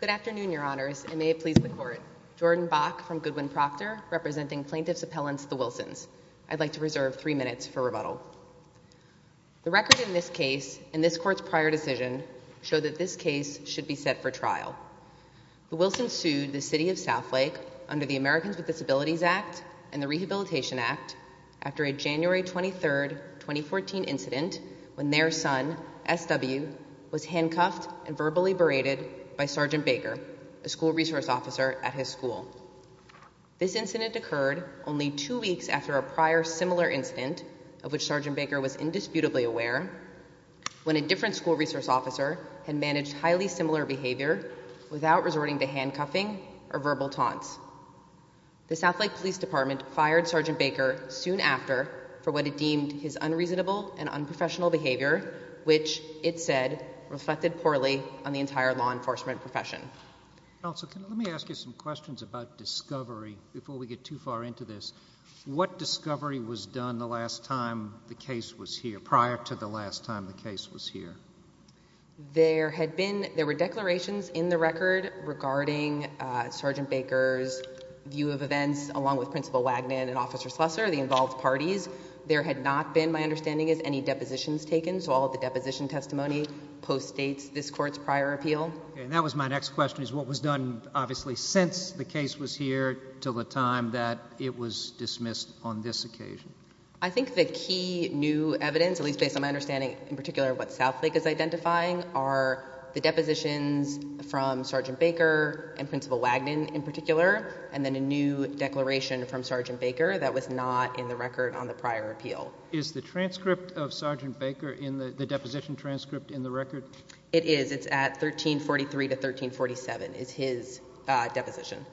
Good afternoon, your honors, and may it please the court. Jordan Bach from Goodwin-Proctor representing plaintiff's appellants, the Wilsons. I'd like to reserve three minutes for rebuttal. The record in this case and this court's prior decision show that this case should be set for trial. The Wilsons sued the City of Southlake under the Americans with Disabilities Act and the Rehabilitation Act after a January 23rd, 2014 incident when their son, SW, was handcuffed and verbally berated by Sgt. Baker, a school resource officer at his school. This incident occurred only two weeks after a prior similar incident, of which Sgt. Baker was indisputably aware, when a different school resource officer had managed highly similar behavior without resorting to handcuffing or verbal taunts. The Southlake Police Department fired Sgt. Baker soon after for what it deemed his unreasonable and unprofessional behavior, which, it said, reflected poorly on the entire law enforcement profession. Counsel, let me ask you some questions about discovery before we get too far into this. What discovery was done the last time the case was here, prior to the last time the case was here? There had been, there were discovered, regarding Sgt. Baker's view of events, along with Principal Wagnon and Officer Slusser, the involved parties. There had not been, my understanding is, any depositions taken, so all of the deposition testimony postdates this Court's prior appeal. And that was my next question, is what was done, obviously, since the case was here till the time that it was dismissed on this occasion? I think the key new evidence, at least based on my understanding in particular of what Southlake is identifying, are the depositions from Sgt. Baker and Principal Wagnon in particular, and then a new declaration from Sgt. Baker that was not in the record on the prior appeal. Is the transcript of Sgt. Baker in the deposition transcript in the record? It is. It's at 1343 to 1347, is his deposition.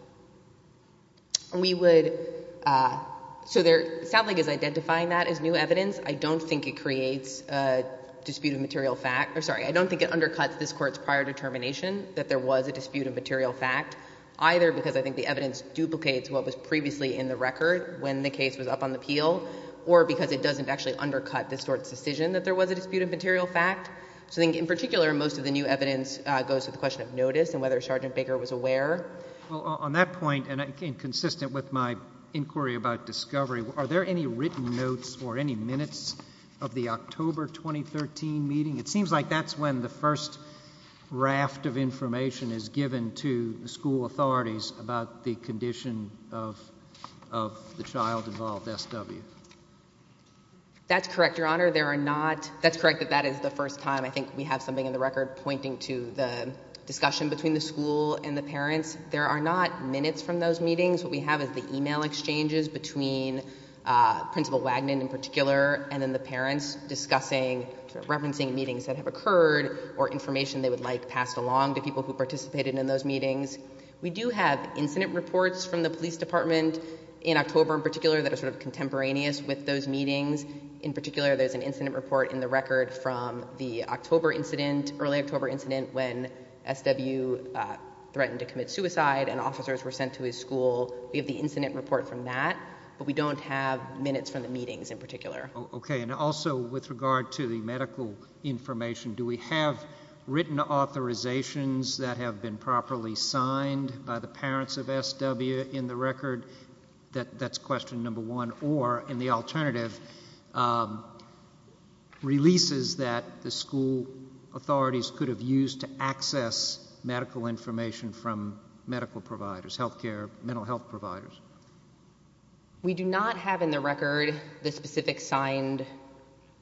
We would, so there, Southlake is identifying that as new evidence. I don't think it creates a dispute of material fact, or sorry, I don't think it undercuts this Court's prior determination that there was a dispute of material fact, either because I think the evidence duplicates what was previously in the record when the case was up on the appeal, or because it doesn't actually undercut this Court's decision that there was a dispute of material fact. So I think in particular, most of the new evidence goes to the question of notice and whether Sgt. Baker was aware. Well, on that point, and consistent with my inquiry about discovery, are there any written notes or any minutes of the October 2013 meeting? It seems like that's when the first raft of information is given to the school authorities about the condition of the child involved, SW. That's correct, Your Honor. There are not, that's correct that that is the first time. I think we have something in the record pointing to the discussion between the school and the parents. There are not minutes from those meetings. What we have is the email exchanges between Principal Wagnon in particular and then the parents discussing, referencing meetings that have occurred or information they would like passed along to people who participated in those meetings. We do have incident reports from the police department in October in particular that are sort of contemporaneous with those meetings. In particular, there's an incident report in the record from the October incident, early October incident when SW threatened to commit suicide and officers were sent to his school. We have the incident report from that, but we don't have minutes from the meetings in particular. Okay. And also with regard to the medical information, do we have written authorizations that have been properly signed by the parents of SW in the record? That's question number one. Or in the alternative, releases that the school authorities could have used to We do not have in the record the specific signed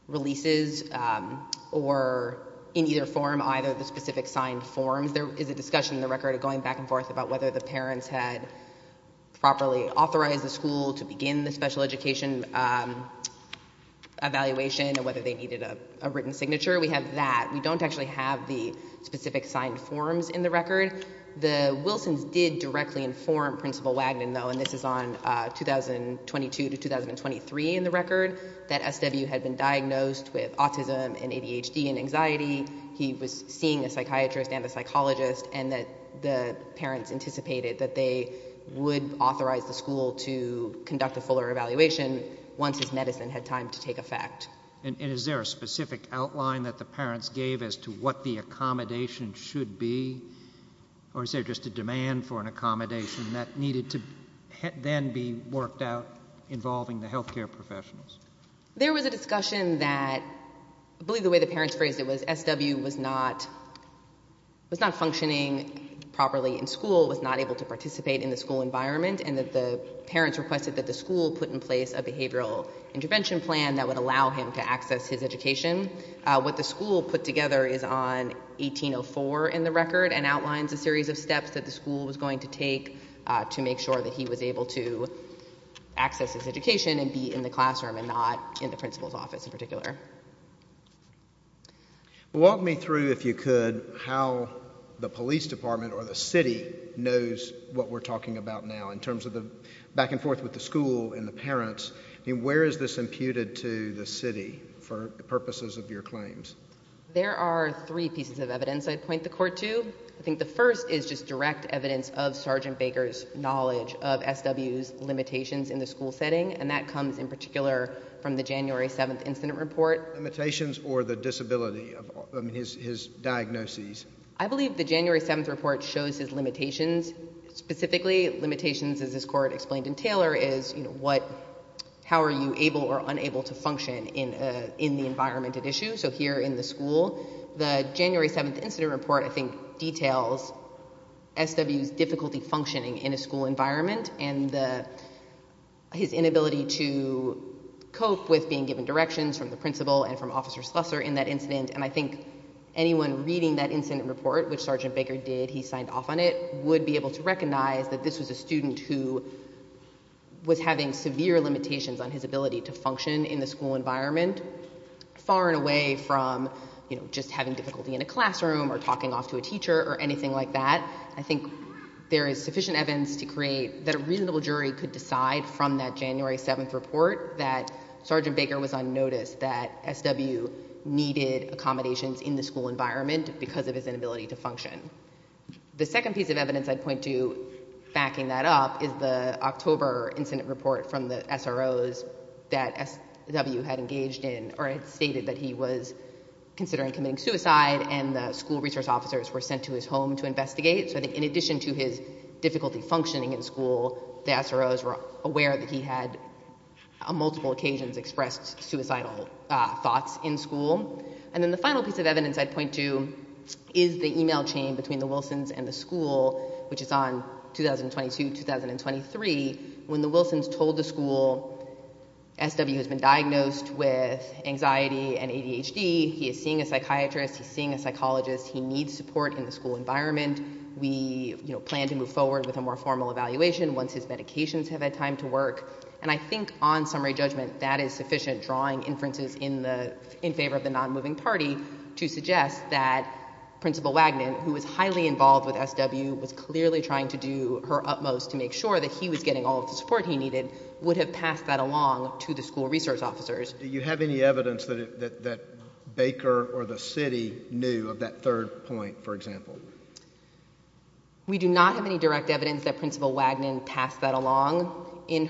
releases or in either form either the specific signed forms. There is a discussion in the record going back and forth about whether the parents had properly authorized the school to begin the special education evaluation and whether they needed a written signature. We have that. We don't actually have the specific signed forms in the record. The Wilsons did directly inform Principal Wagnon, though, and this is on 2022 to 2023 in the record, that SW had been diagnosed with autism and ADHD and anxiety. He was seeing a psychiatrist and a psychologist and that the parents anticipated that they would authorize the school to conduct a fuller evaluation once his medicine had time to take effect. And is there a specific outline that the parents gave as to what the accommodation should be? Or is there just a demand for an accommodation that needed to then be worked out involving the health care professionals? There was a discussion that I believe the way the parents phrased it was SW was not functioning properly in school, was not able to participate in the school environment and that the parents requested that the school put in place a behavioral intervention plan that would allow him to access his education. What the school put together is on 1804 in the record and outlines a series of steps that the school was going to take to make sure that he was able to access his education and be in the classroom and not in the principal's office in particular. Walk me through, if you could, how the police department or the city knows what we're talking about now in terms of the back and forth with the school and the parents. Where is this imputed to the city for purposes of your claims? There are three pieces of evidence I'd point the court to. I think the first is just direct evidence of Sergeant Baker's knowledge of SW's limitations in the school setting and that comes in particular from the January 7th incident report. Limitations or the disability of his diagnoses? I believe the January 7th report shows his limitations. Specifically, limitations as this court explained in Taylor is how are you able or unable to function in the environment at issue. So here in the school, the January 7th incident report I think details SW's difficulty functioning in a school environment and his inability to cope with being given directions from the principal and from Officer Slusser in that incident. And I think anyone reading that incident report, which Sergeant Baker did, he signed off on it, would be able to recognize that this was a student who was having severe limitations on his ability to learn away from just having difficulty in a classroom or talking off to a teacher or anything like that. I think there is sufficient evidence to create that a reasonable jury could decide from that January 7th report that Sergeant Baker was unnoticed, that SW needed accommodations in the school environment because of his inability to function. The second piece of evidence I'd point to backing that up is the October incident report from the SROs that SW had engaged in or had stated that he was considering committing suicide and the school resource officers were sent to his home to investigate. So I think in addition to his difficulty functioning in school, the SROs were aware that he had on multiple occasions expressed suicidal thoughts in school. And then the final piece of evidence I'd point to is the email chain between the Wilsons and the school, which is on 2022-2023, when the Wilsons told the school, SW has been diagnosed with anxiety and ADHD, he is seeing a psychiatrist, he's seeing a psychologist, he needs support in the school environment, we plan to move forward with a more formal evaluation once his medications have had time to work. And I think on summary judgment, that is sufficient drawing inferences in favor of the non-moving party to suggest that Principal Wagnon, who was highly involved with SW, was clearly trying to do her utmost to make sure that he was getting all of the support he needed, would have passed that along to the school resource officers. Do you have any evidence that Baker or the city knew of that third point, for example? We do not have any direct evidence that Principal Wagnon passed that along. She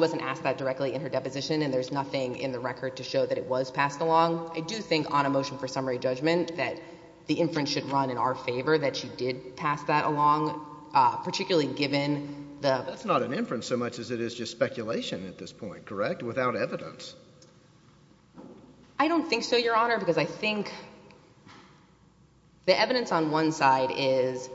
wasn't asked that directly in her deposition and there's nothing in the record to show that it was passed along. I do think on a motion for summary judgment that the inference should run in our favor that she did pass that along, particularly given the... That's not an inference so much as it is just speculation at this point, correct? Without evidence? I don't think so, Your Honor, because I think the evidence on one side is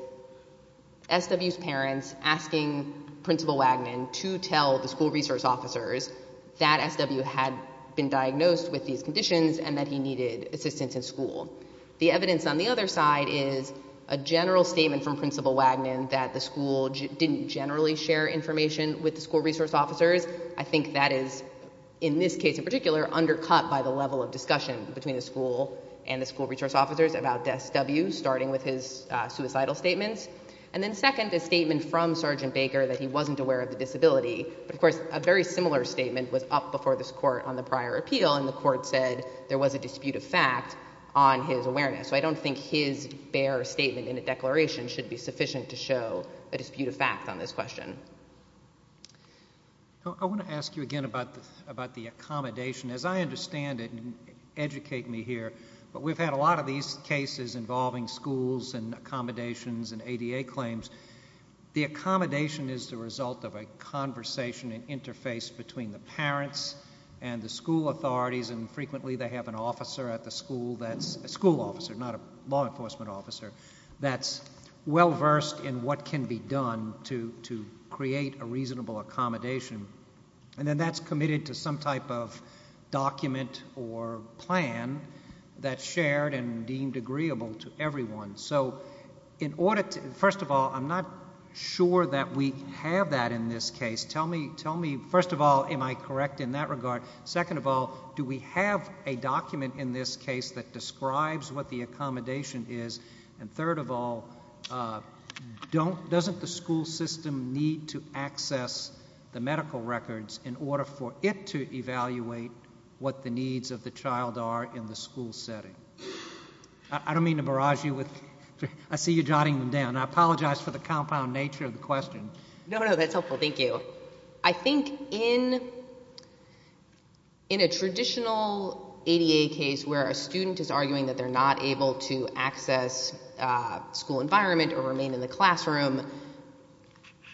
SW's parents asking Principal Wagnon to tell the school resource officers that SW had been diagnosed with these conditions and that he needed assistance in school. The evidence on the other side is a general statement from Principal Wagnon that the school didn't generally share information with the school resource officers. I think that is, in this case in particular, undercut by the level of discussion between the school and the school resource officers about SW, starting with his suicidal statements. And then second, a statement from Sergeant Baker that he wasn't aware of the disability. But of course, a very similar statement was up before this Court on the prior appeal and the Court said there was a dispute of fact on his awareness. So I don't think his bare statement in a declaration should be sufficient to show a dispute of fact on this question. I want to ask you again about the accommodation. As I understand it, and educate me here, but we've had a lot of these cases involving schools and accommodations and ADA claims. The accommodation is the result of a conversation and interface between the parents and the school officer, not a law enforcement officer, that's well versed in what can be done to create a reasonable accommodation. And then that's committed to some type of document or plan that's shared and deemed agreeable to everyone. So in order to, first of all, I'm not sure that we have that in this case. Tell me, first of all, am I correct in that it describes what the accommodation is? And third of all, doesn't the school system need to access the medical records in order for it to evaluate what the needs of the child are in the school setting? I don't mean to barrage you with, I see you jotting them down. I apologize for the compound nature of the question. No, no, that's helpful. Thank you. I think in a traditional ADA case where a student is arguing that they're not able to access school environment or remain in the classroom,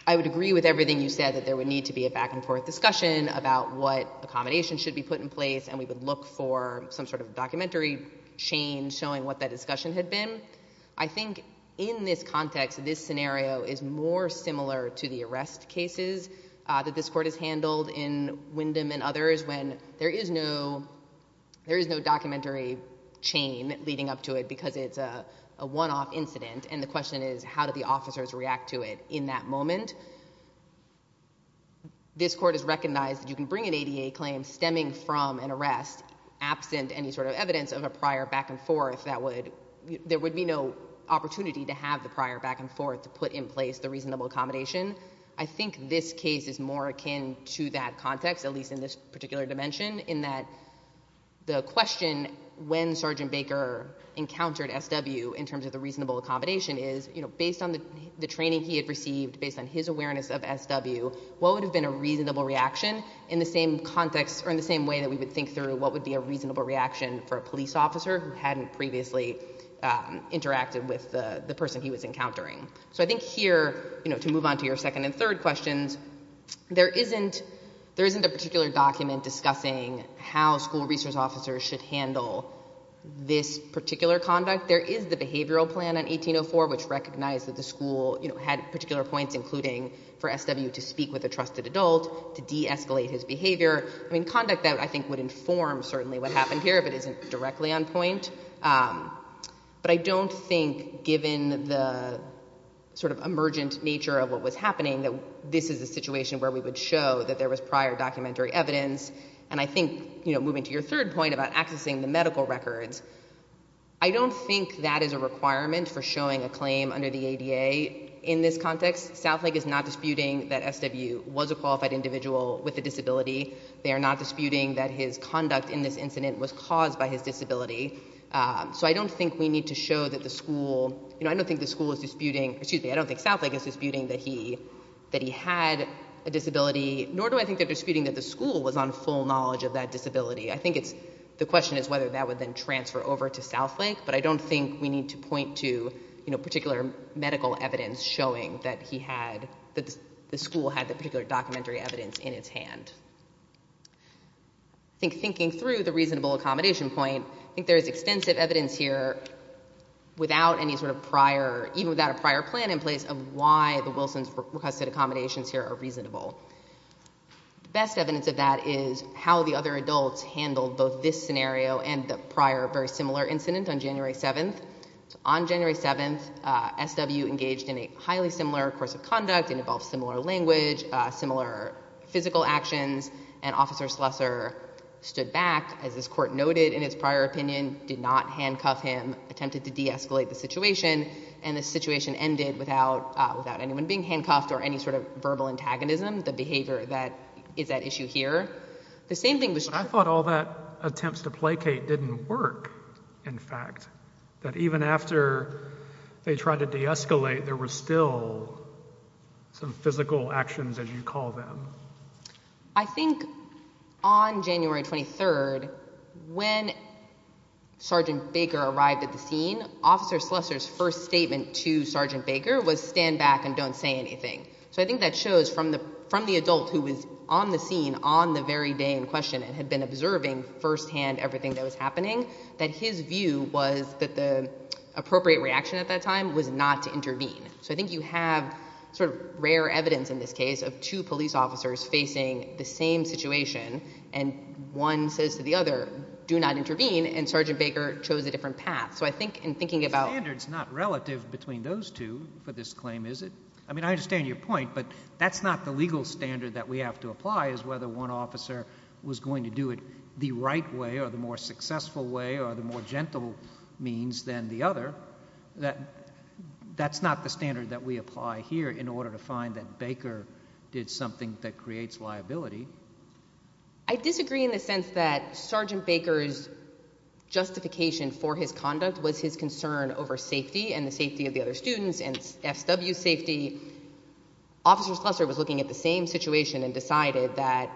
I would agree with everything you said, that there would need to be a back and forth discussion about what accommodation should be put in place and we would look for some sort of documentary chain showing what that discussion had been. I think in this context, this scenario is more similar to the arrest cases that this Court has handled in Wyndham and others when there is no documentary chain leading up to it because it's a one-off incident and the question is how do the officers react to it in that moment. This Court has recognized that you can bring an ADA claim stemming from an arrest absent any sort of evidence of a prior back and forth that would, there would be no opportunity to have the prior back and forth to put in place the reasonable accommodation. I think this case is more akin to that context, at least in this particular dimension, in that the question when Sergeant Baker encountered SW in terms of the reasonable accommodation is, you know, based on the training he had received, based on his awareness of SW, what would have been a reasonable reaction in the same context or in the same way that we would think through what would be a reasonable reaction for a police officer who hadn't previously interacted with the person he was encountering. So I think here, you know, to move on to your second and third questions, there isn't, there isn't a particular document discussing how school resource officers should handle this particular conduct. There is the behavioral plan in 1804 which recognized that the school, you know, had particular points including for SW to speak with a trusted adult, to de-escalate his behavior. I mean, conduct that I think would inform certainly what happened here but isn't directly on point. But I don't think given the sort of emergent nature of what was happening that this is a situation where we would show that there was prior documentary evidence. And I think, you know, moving to your third point about accessing the medical records, I don't think that is a requirement for showing a claim under the ADA in this context. Southlake is not disputing that SW was a qualified individual with a disability. They are not disputing that his conduct in this incident was caused by his disability. So I don't think we need to show that the school, you know, I don't think the school is disputing, excuse me, I don't think Southlake is disputing that he, that he had a disability nor do I think they're disputing that the school was on full knowledge of that disability. I think it's, the question is whether that would then transfer over to Southlake but I don't think we need to point to, you know, particular medical evidence showing that he had a disability in his hand. I think thinking through the reasonable accommodation point, I think there is extensive evidence here without any sort of prior, even without a prior plan in place of why the Wilson's requested accommodations here are reasonable. The best evidence of that is how the other adults handled both this scenario and the prior very similar incident on January 7th. On January 7th, SW engaged in a highly similar course of conduct, involved similar language, similar physical actions, and Officer Schlesser stood back, as this court noted in its prior opinion, did not handcuff him, attempted to deescalate the situation, and the situation ended without, without anyone being handcuffed or any sort of verbal antagonism, the behavior that is at issue here. The same thing was true- I thought all that attempts to placate didn't work, in fact. That even after they tried to deescalate, there were still some physical actions, as you call them. I think on January 23rd, when Sergeant Baker arrived at the scene, Officer Schlesser's first statement to Sergeant Baker was stand back and don't say anything. So I think that shows from the, from the adult who was on the scene on the very day in question and had been observing firsthand everything that was happening, that his view was that the So I think you have sort of rare evidence in this case of two police officers facing the same situation, and one says to the other, do not intervene, and Sergeant Baker chose a different path. So I think in thinking about- The standard's not relative between those two for this claim, is it? I mean, I understand your point, but that's not the legal standard that we have to apply, is whether one officer was going to do it the right way or the more successful way or the more gentle means than the other. That's not the standard that we apply here in order to find that Baker did something that creates liability. I disagree in the sense that Sergeant Baker's justification for his conduct was his concern over safety and the safety of the other students and FW safety. Officer Schlesser was looking at the same situation and decided that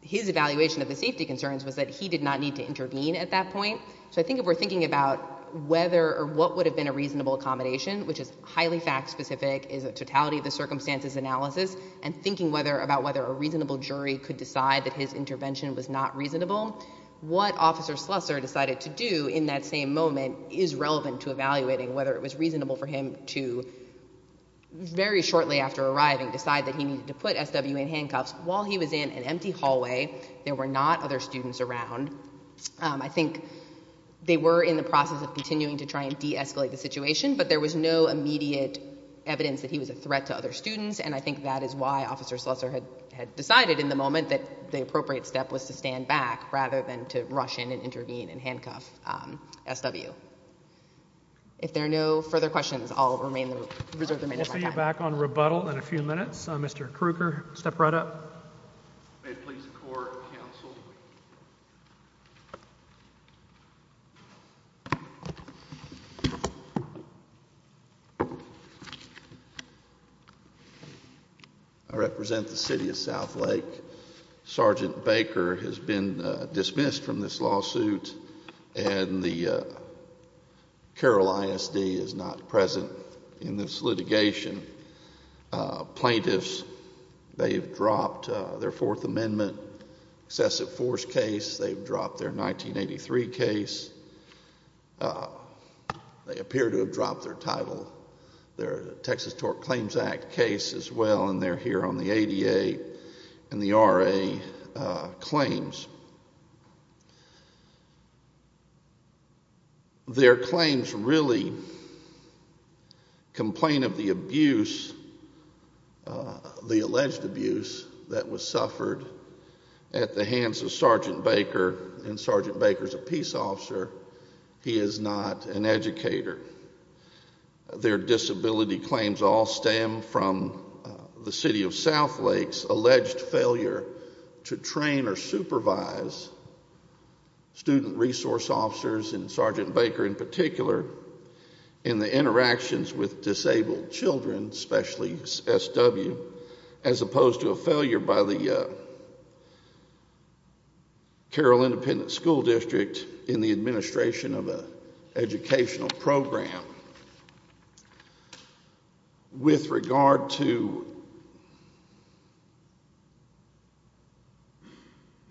his evaluation of the safety concerns was that he did not need to intervene at that point. So I think if we're thinking about whether or what would have been a reasonable accommodation, which is highly fact-specific, is a totality of the circumstances analysis, and thinking about whether a reasonable jury could decide that his intervention was not reasonable, what Officer Schlesser decided to do in that same moment is relevant to evaluating whether it was reasonable for him to, very shortly after arriving, decide that he needed to put SW in handcuffs while he was in an empty hallway. There were not other students around. I think they were in the process of continuing to try and de-escalate the situation, but there was no immediate evidence that he was a threat to other students, and I think that is why Officer Schlesser had decided in the moment that the appropriate step was to stand back rather than to rush in and intervene and handcuff SW. If there are no further questions, I'll reserve the remaining time. We'll see you back on rebuttal in a few minutes. Mr. Krueger, step right up. May it please the Court, counsel. I represent the City of Southlake. Sergeant Baker has been dismissed from this lawsuit, and the Carroll ISD is not present in this litigation. Plaintiffs, they've dropped their Fourth Amendment excessive force case. They've dropped their 1983 case. They appear to have dropped their title, their Texas Tort Claims Act case as well, and they're here on the ADA and the RA claims. Their claims really complain of the abuse, the alleged abuse, that was suffered at the hands of Sergeant Baker, and Sergeant Baker's a peace officer. He is not an educator. Their disability claims all stem from the City of Southlake's alleged failure to train or supervise student resource officers, and Sergeant Baker in particular, in the interactions with disabled children, especially SW, as opposed to a failure by the Carroll Independent School District in the administration of an educational program. With regard to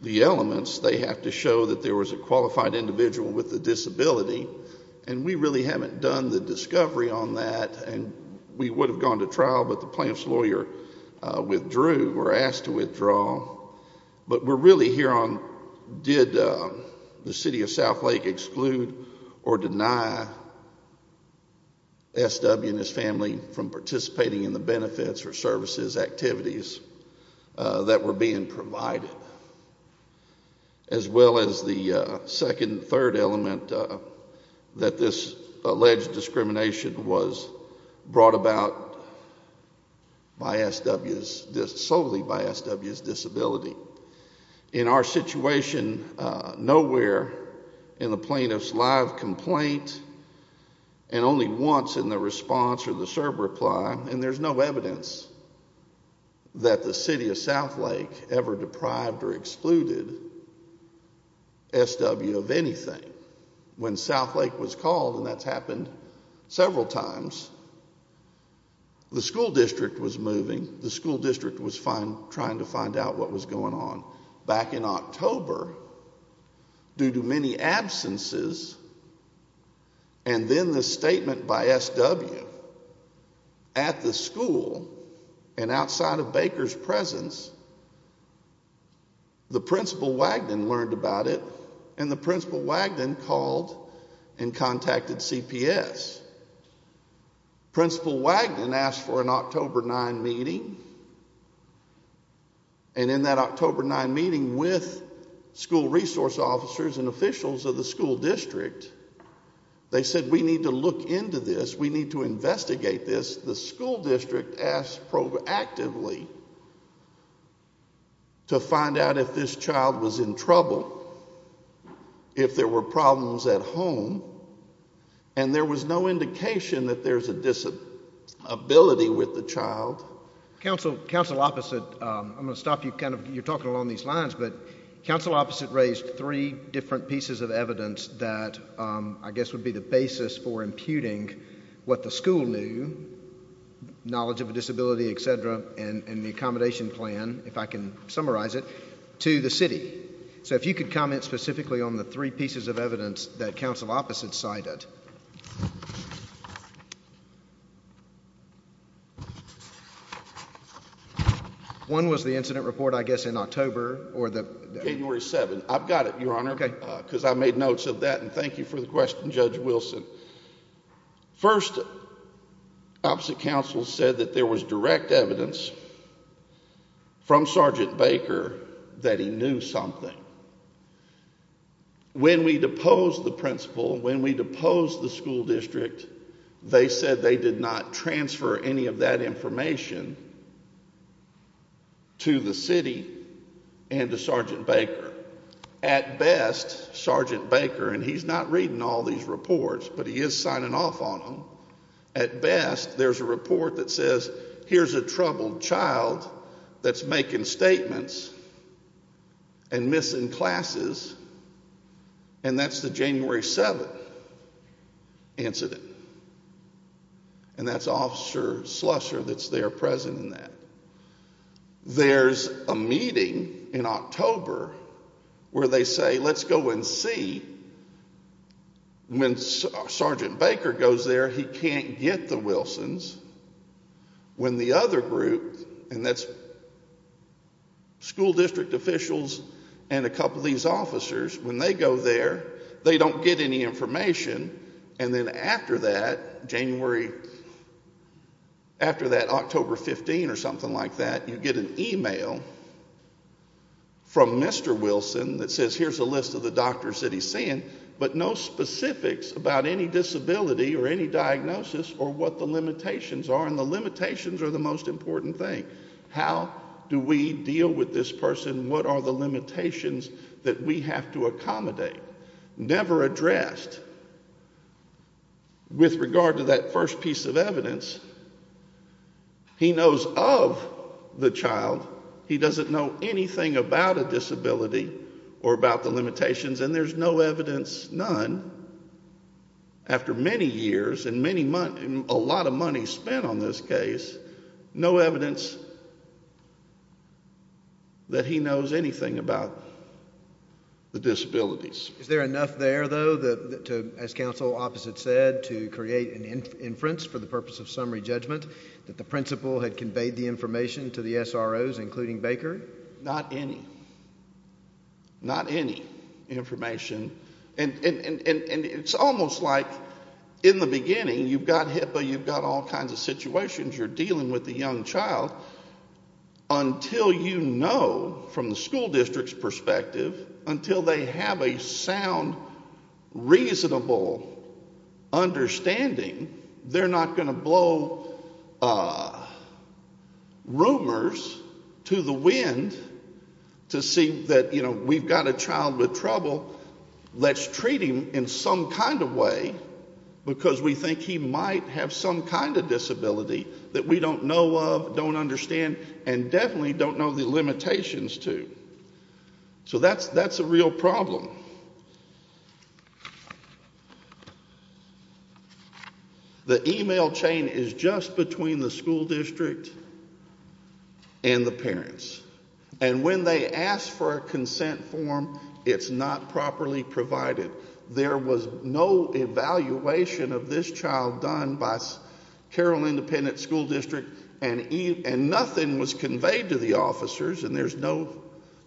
the elements, they have to show that there was a qualified individual with a disability, and we really haven't done the discovery on that, and we would have gone to trial, but the plaintiff's lawyer withdrew or asked to withdraw, but we're really here on did the City of Southlake exclude or deny SW and his family from participating in the benefits or services activities that were being provided, as well as the second and third element that this is solely by SW's disability. In our situation, nowhere in the plaintiff's live complaint, and only once in the response or the serve reply, and there's no evidence that the City of Southlake ever deprived or excluded SW of anything. When Southlake was called, and that's happened several times, the school district was moving, the school district was trying to find out what was going on. Back in October, due to many absences, and then the statement by SW at the school and outside of Baker's presence, the principal Wagnon learned about it, and the principal Wagnon called and contacted CPS. Principal Wagnon asked for an October 9 meeting, and in that October 9 meeting with school resource officers and officials of the school district, they said we need to look into this, we need to if there were problems at home, and there was no indication that there's a disability with the child. Council opposite, I'm going to stop you kind of, you're talking along these lines, but council opposite raised three different pieces of evidence that I guess would be the basis for imputing what the school knew, knowledge of a disability, et cetera, and the accommodation plan, if I can summarize it, to the city. So if you could comment specifically on the three pieces of evidence that council opposite cited. One was the incident report I guess in October. January 7. I've got it, Your Honor, because I made notes of that, and thank you for the from Sergeant Baker that he knew something. When we deposed the principal, when we deposed the school district, they said they did not transfer any of that information to the city and to Sergeant Baker. At best, Sergeant Baker, and he's not reading all these reports, but making statements and missing classes, and that's the January 7 incident. And that's Officer Slusser that's there present in that. There's a meeting in October where they say let's go and see. When Sergeant Baker goes there, he can't get the Wilsons. When the other group, and that's school district officials and a couple of these officers, when they go there, they don't get any information. And then after that, October 15 or something like that, you get an email from Mr. Wilson that says here's a list of the doctors that he's seeing, but no specifics about any disability or any diagnosis or what the limitations are. And the limitations are the most important thing. How do we deal with this person? What are the limitations that we have to accommodate? Never addressed. With regard to that first piece of evidence, he knows of the child. He doesn't know anything about a disability or about the limitations, and there's no evidence, none, after many years and a lot of money spent on this case, no evidence that he knows anything about the disabilities. Is there enough there, though, as counsel Opposite said, to create an inference for the purpose of summary judgment that the principal had conveyed the information to the SROs, including Baker? Not any. Not any information. And it's almost like in the beginning you've got HIPAA, you've got all kinds of situations, you're dealing with a young child, until you know from the school district's perspective, until they have a sound, reasonable understanding, they're not going to blow rumors to the wind to see that, you know, we've got a child with trouble, let's treat him in some kind of way, because we think he might have some kind of disability that we don't know of, don't understand, and definitely don't know the limitations to. So that's a real problem. The email chain is just between the school district and the parents. And when they ask for a consent form, it's not properly provided. There was no evaluation of this child done by Carroll Independent School District, and nothing was conveyed to the officers, and there's no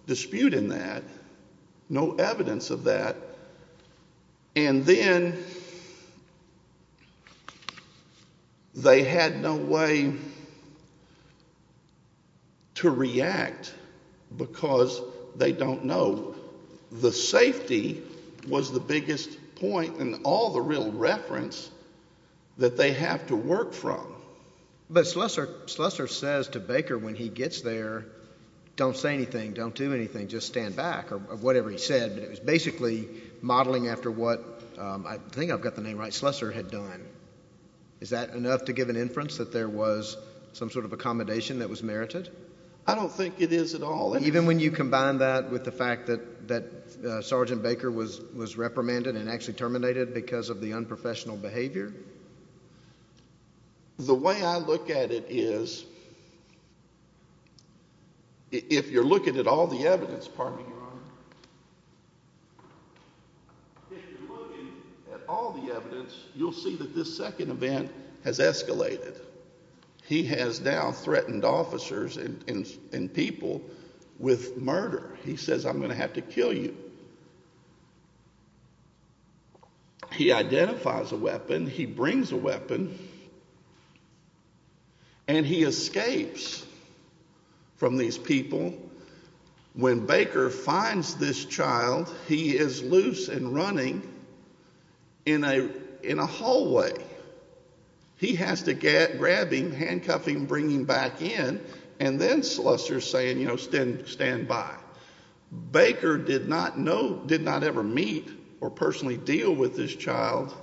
dispute in that, no evidence of that. And then they had no way to react because they don't know. The safety was the biggest point in all the real reference that they have to work from. But Slessor says to Baker when he gets there, don't say anything, don't do anything, just stand back, or whatever he said. It was basically modeling after what, I think I've got the name right, Slessor had done. Is that enough to give an inference that there was some sort of accommodation that was merited? I don't think it is at all. Even when you combine that with the fact that Sergeant Baker was reprimanded and actually terminated because of the unprofessional behavior? The way I look at it is, if you're looking at all the evidence, you'll see that this with murder. He says, I'm going to have to kill you. He identifies a weapon, he brings a weapon, and he escapes from these people. When Baker finds this child, he is loose and running in a hallway. He has to grab him, handcuff him, bring him back in, and then Slessor is saying, stand by. Baker did not ever meet or personally deal with this child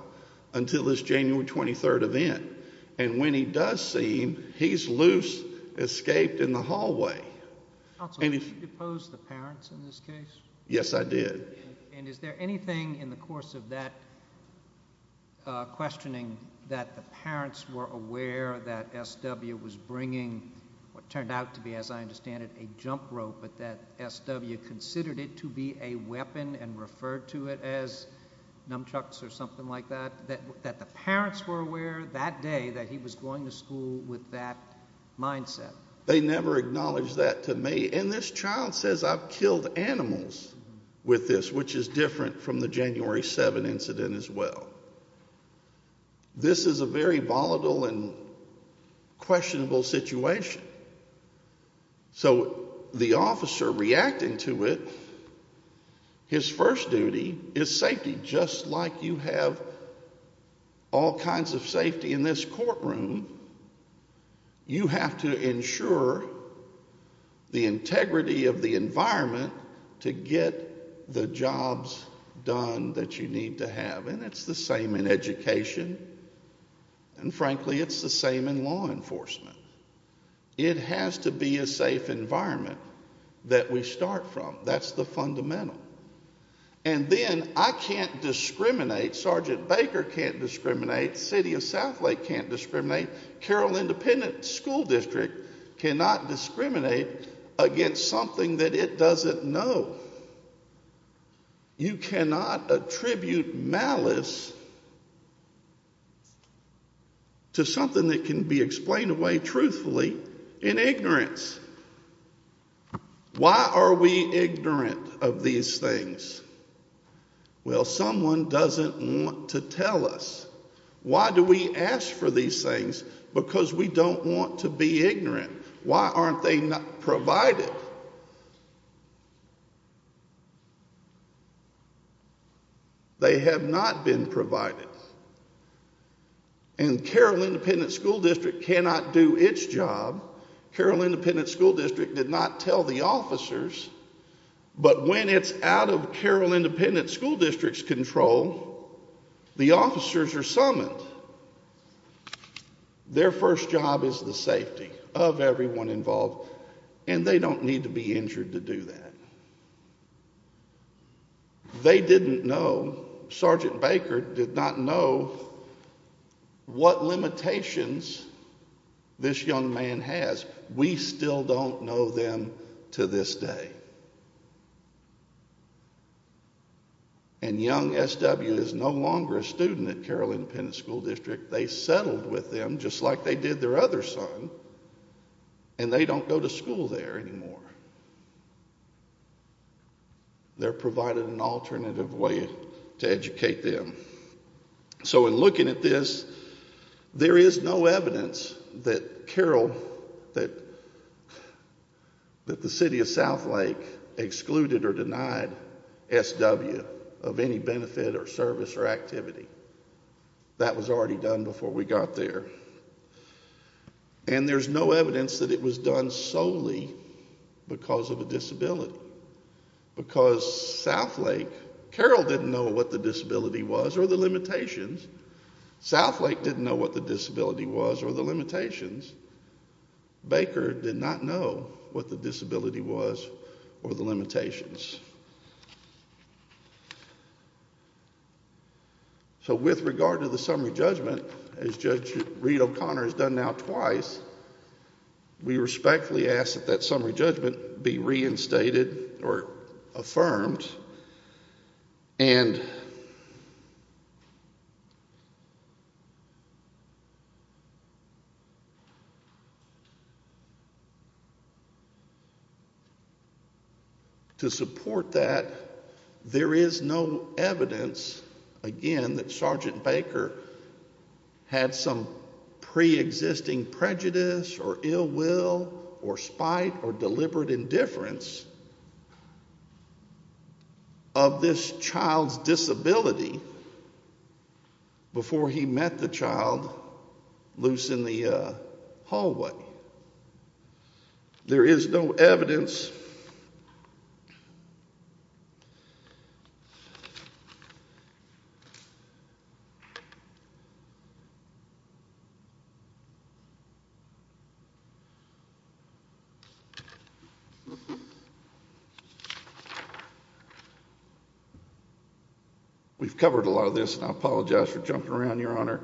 until this January 23rd event. And when he does see him, he's loose, escaped in the hallway. Counsel, did you depose the parents in this case? Yes, I did. And is there anything in the course of that questioning that the parents were aware that SW was bringing what turned out to be, as I understand it, a jump rope, but that SW considered it to be a weapon and referred to it as nunchucks or something like that? That the parents were aware that day that he was going to school with that mindset? They never acknowledged that to me. And this child says, I've killed animals with this, which is different from the January 7th incident as well. This is a very volatile and questionable situation. So the officer reacting to it, his first duty is safety. Just like you have all kinds of safety in this courtroom, you have to ensure the integrity of the environment to get the jobs done that you need to have. And it's the same in education. And frankly, it's the same in law enforcement. It has to be a safe environment that we start from. That's the fundamental. And then I can't discriminate. Sergeant Baker can't discriminate. City of Southlake can't discriminate. Carroll Independent School District cannot discriminate against something that it doesn't know. You cannot attribute malice. To something that can be explained away truthfully in ignorance. Why are we ignorant of these things? Well, someone doesn't want to tell us. Why do we ask for these things? Because we don't want to be ignorant. Why aren't they provided? They have not been provided. And Carroll Independent School District cannot do its job. Carroll Independent School District did not tell the officers. But when it's out of Carroll Independent School District's control, the officers are summoned. Their first job is the safety of everyone involved. And they don't need to be injured to do that. They didn't know. Sergeant Baker did not know what limitations this young man has. We still don't know them to this day. And young SW is no longer a student at Carroll Independent School District. They settled with them just like they did their other son. And they don't go to school there anymore. They're provided an alternative way to educate them. So in looking at this, there is no evidence that Carroll, that the City of Southlake, excluded or denied SW of any benefit or service or activity. That was already done before we got there. And there's no evidence that it was done solely because of a disability. Because Southlake, Carroll didn't know what the disability was or the limitations. Southlake didn't know what the disability was or the limitations. Baker did not know what the disability was or the limitations. So with regard to the summary judgment, as Judge Reed O'Connor has done now twice, we respectfully ask that that summary judgment be reinstated or affirmed. And... To support that, there is no evidence, again, that Sergeant Baker had some pre-existing prejudice or ill will or spite or deliberate indifference. Of this child's disability before he met the child loose in the hallway. There is no evidence... We've covered a lot of this, and I apologize for jumping around, Your Honor.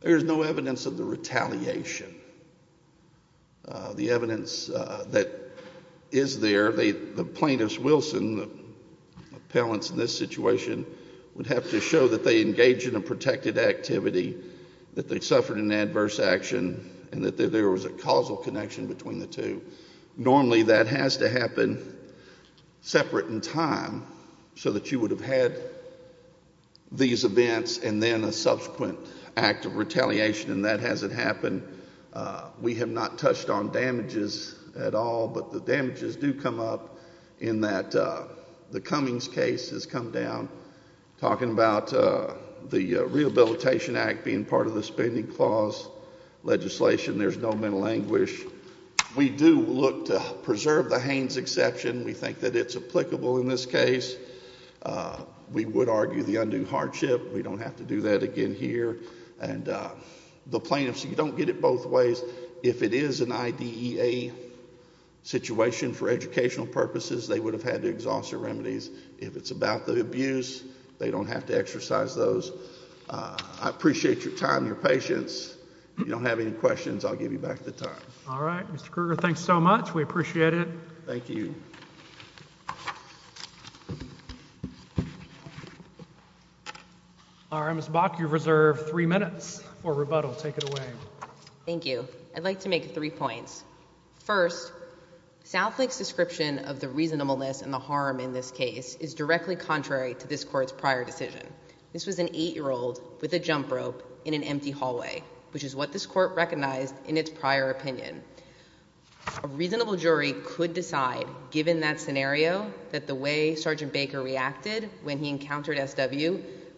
There is no evidence of the retaliation. The evidence that is there, the plaintiffs, Wilson, the appellants in this situation, would have to show that they engaged in a protected activity, that they suffered an adverse action, and that there was a causal connection between the two. Normally, that has to happen separate in time, so that you would have had these events and then a subsequent act of retaliation, and that hasn't happened. We have not touched on damages at all, but the damages do come up in that the Cummings case has come down, talking about the Rehabilitation Act being part of the spending clause legislation. There's no mental anguish. We do look to preserve the Haines exception. We think that it's applicable in this case. We would argue the undue hardship. We don't have to do that again here. And the plaintiffs, you don't get it both ways. If it is an IDEA situation for educational purposes, they would have had to exhaust their remedies. If it's about the abuse, they don't have to exercise those. I appreciate your time and your patience. If you don't have any questions, I'll give you back the time. All right. Mr. Kruger, thanks so much. We appreciate it. Thank you. Ms. Bach, you have reserved three minutes for rebuttal. Take it away. Thank you. I'd like to make three points. First, Southlake's description of the reasonableness and the harm in this case is directly contrary to this court's prior decision. This was an 8-year-old with a jump rope in an empty hallway, which is what this court recognized in its prior opinion. A reasonable jury could decide, given that scenario, that the way Sergeant Baker reacted when he encountered SW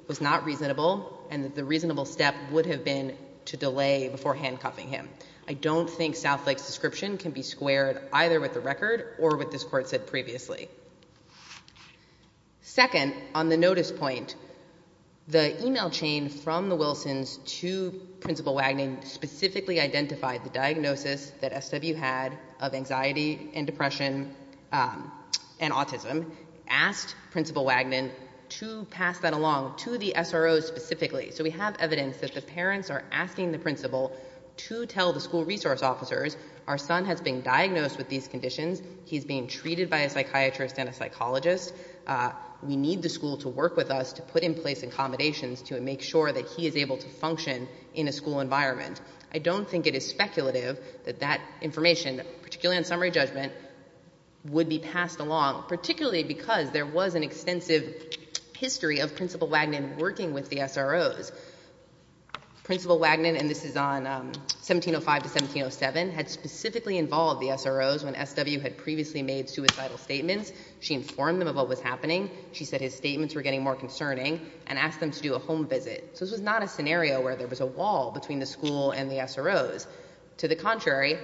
was not reasonable and that the reasonable step would have been to delay before handcuffing him. I don't think Southlake's description can be squared either with the record or with what this court said previously. Second, on the notice point, the email chain from the Wilsons to Principal Wagner specifically identified the diagnosis that SW had of anxiety and depression and autism, asked Principal Wagner to pass that along to the SRO specifically. So we have evidence that the parents are asking the principal to tell the school resource officers, our son has been diagnosed with these conditions, he's being treated by a psychiatrist and a psychologist, we need the school to work with us to put in place accommodations to make sure that he is able to function in a school environment. I don't think it is speculative that that information, particularly on summary judgment, would be passed along, particularly because there was an extensive history of Principal Wagner working with the SROs. Principal Wagner, and this is on 1705-1707, had specifically involved the SROs when SW had previously made suicidal statements. She informed them of what was happening. She said his statements were getting more concerning and asked them to do a home visit. So this was not a scenario where there was a wall between the school and the SROs. To the contrary,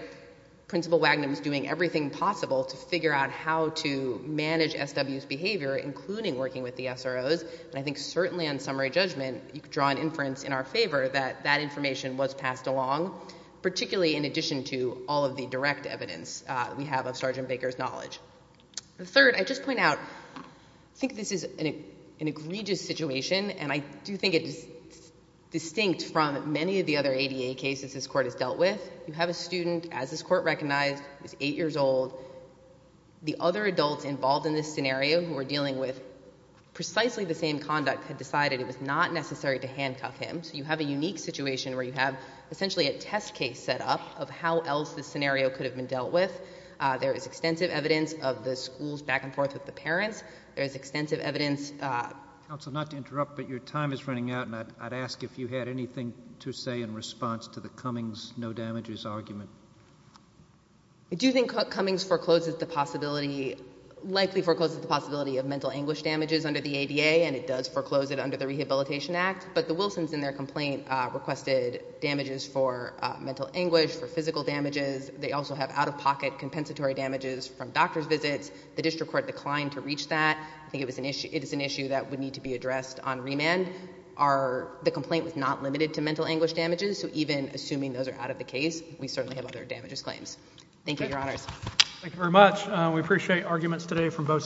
Principal Wagner was doing everything possible to figure out how to manage SW's behavior, including working with the SROs, and I think certainly on summary judgment, you could draw an inference in our favor that that information was passed along, particularly in addition to all of the direct evidence we have of Sergeant Baker's knowledge. Third, I just point out, I think this is an egregious situation, and I do think it is distinct from many of the other ADA cases this Court has dealt with. You have a student, as this Court recognized, who is 8 years old. The other adults involved in this scenario who are dealing with precisely the same conduct had decided it was not necessary to handcuff him. So you have a unique situation where you have essentially a test case set up of how else this scenario could have been dealt with. There is extensive evidence of the school's back and forth with the parents. There is extensive evidence... Counsel, not to interrupt, but your time is running out, and I'd ask if you had anything to say in response to the Cummings no damages argument. I do think Cummings forecloses the possibility, likely forecloses the possibility of mental anguish damages under the ADA, and it does foreclose it under the Rehabilitation Act, but the Wilsons in their complaint requested damages for mental anguish, for physical damages. They also have out-of-pocket compensatory damages from doctor's visits. The district court declined to reach that. I think it is an issue that would need to be addressed on remand. The complaint was not limited to mental anguish damages, so even assuming those are out of the case, we certainly have other damages claims. Thank you, Your Honors. Thank you very much. We appreciate arguments today from both sides.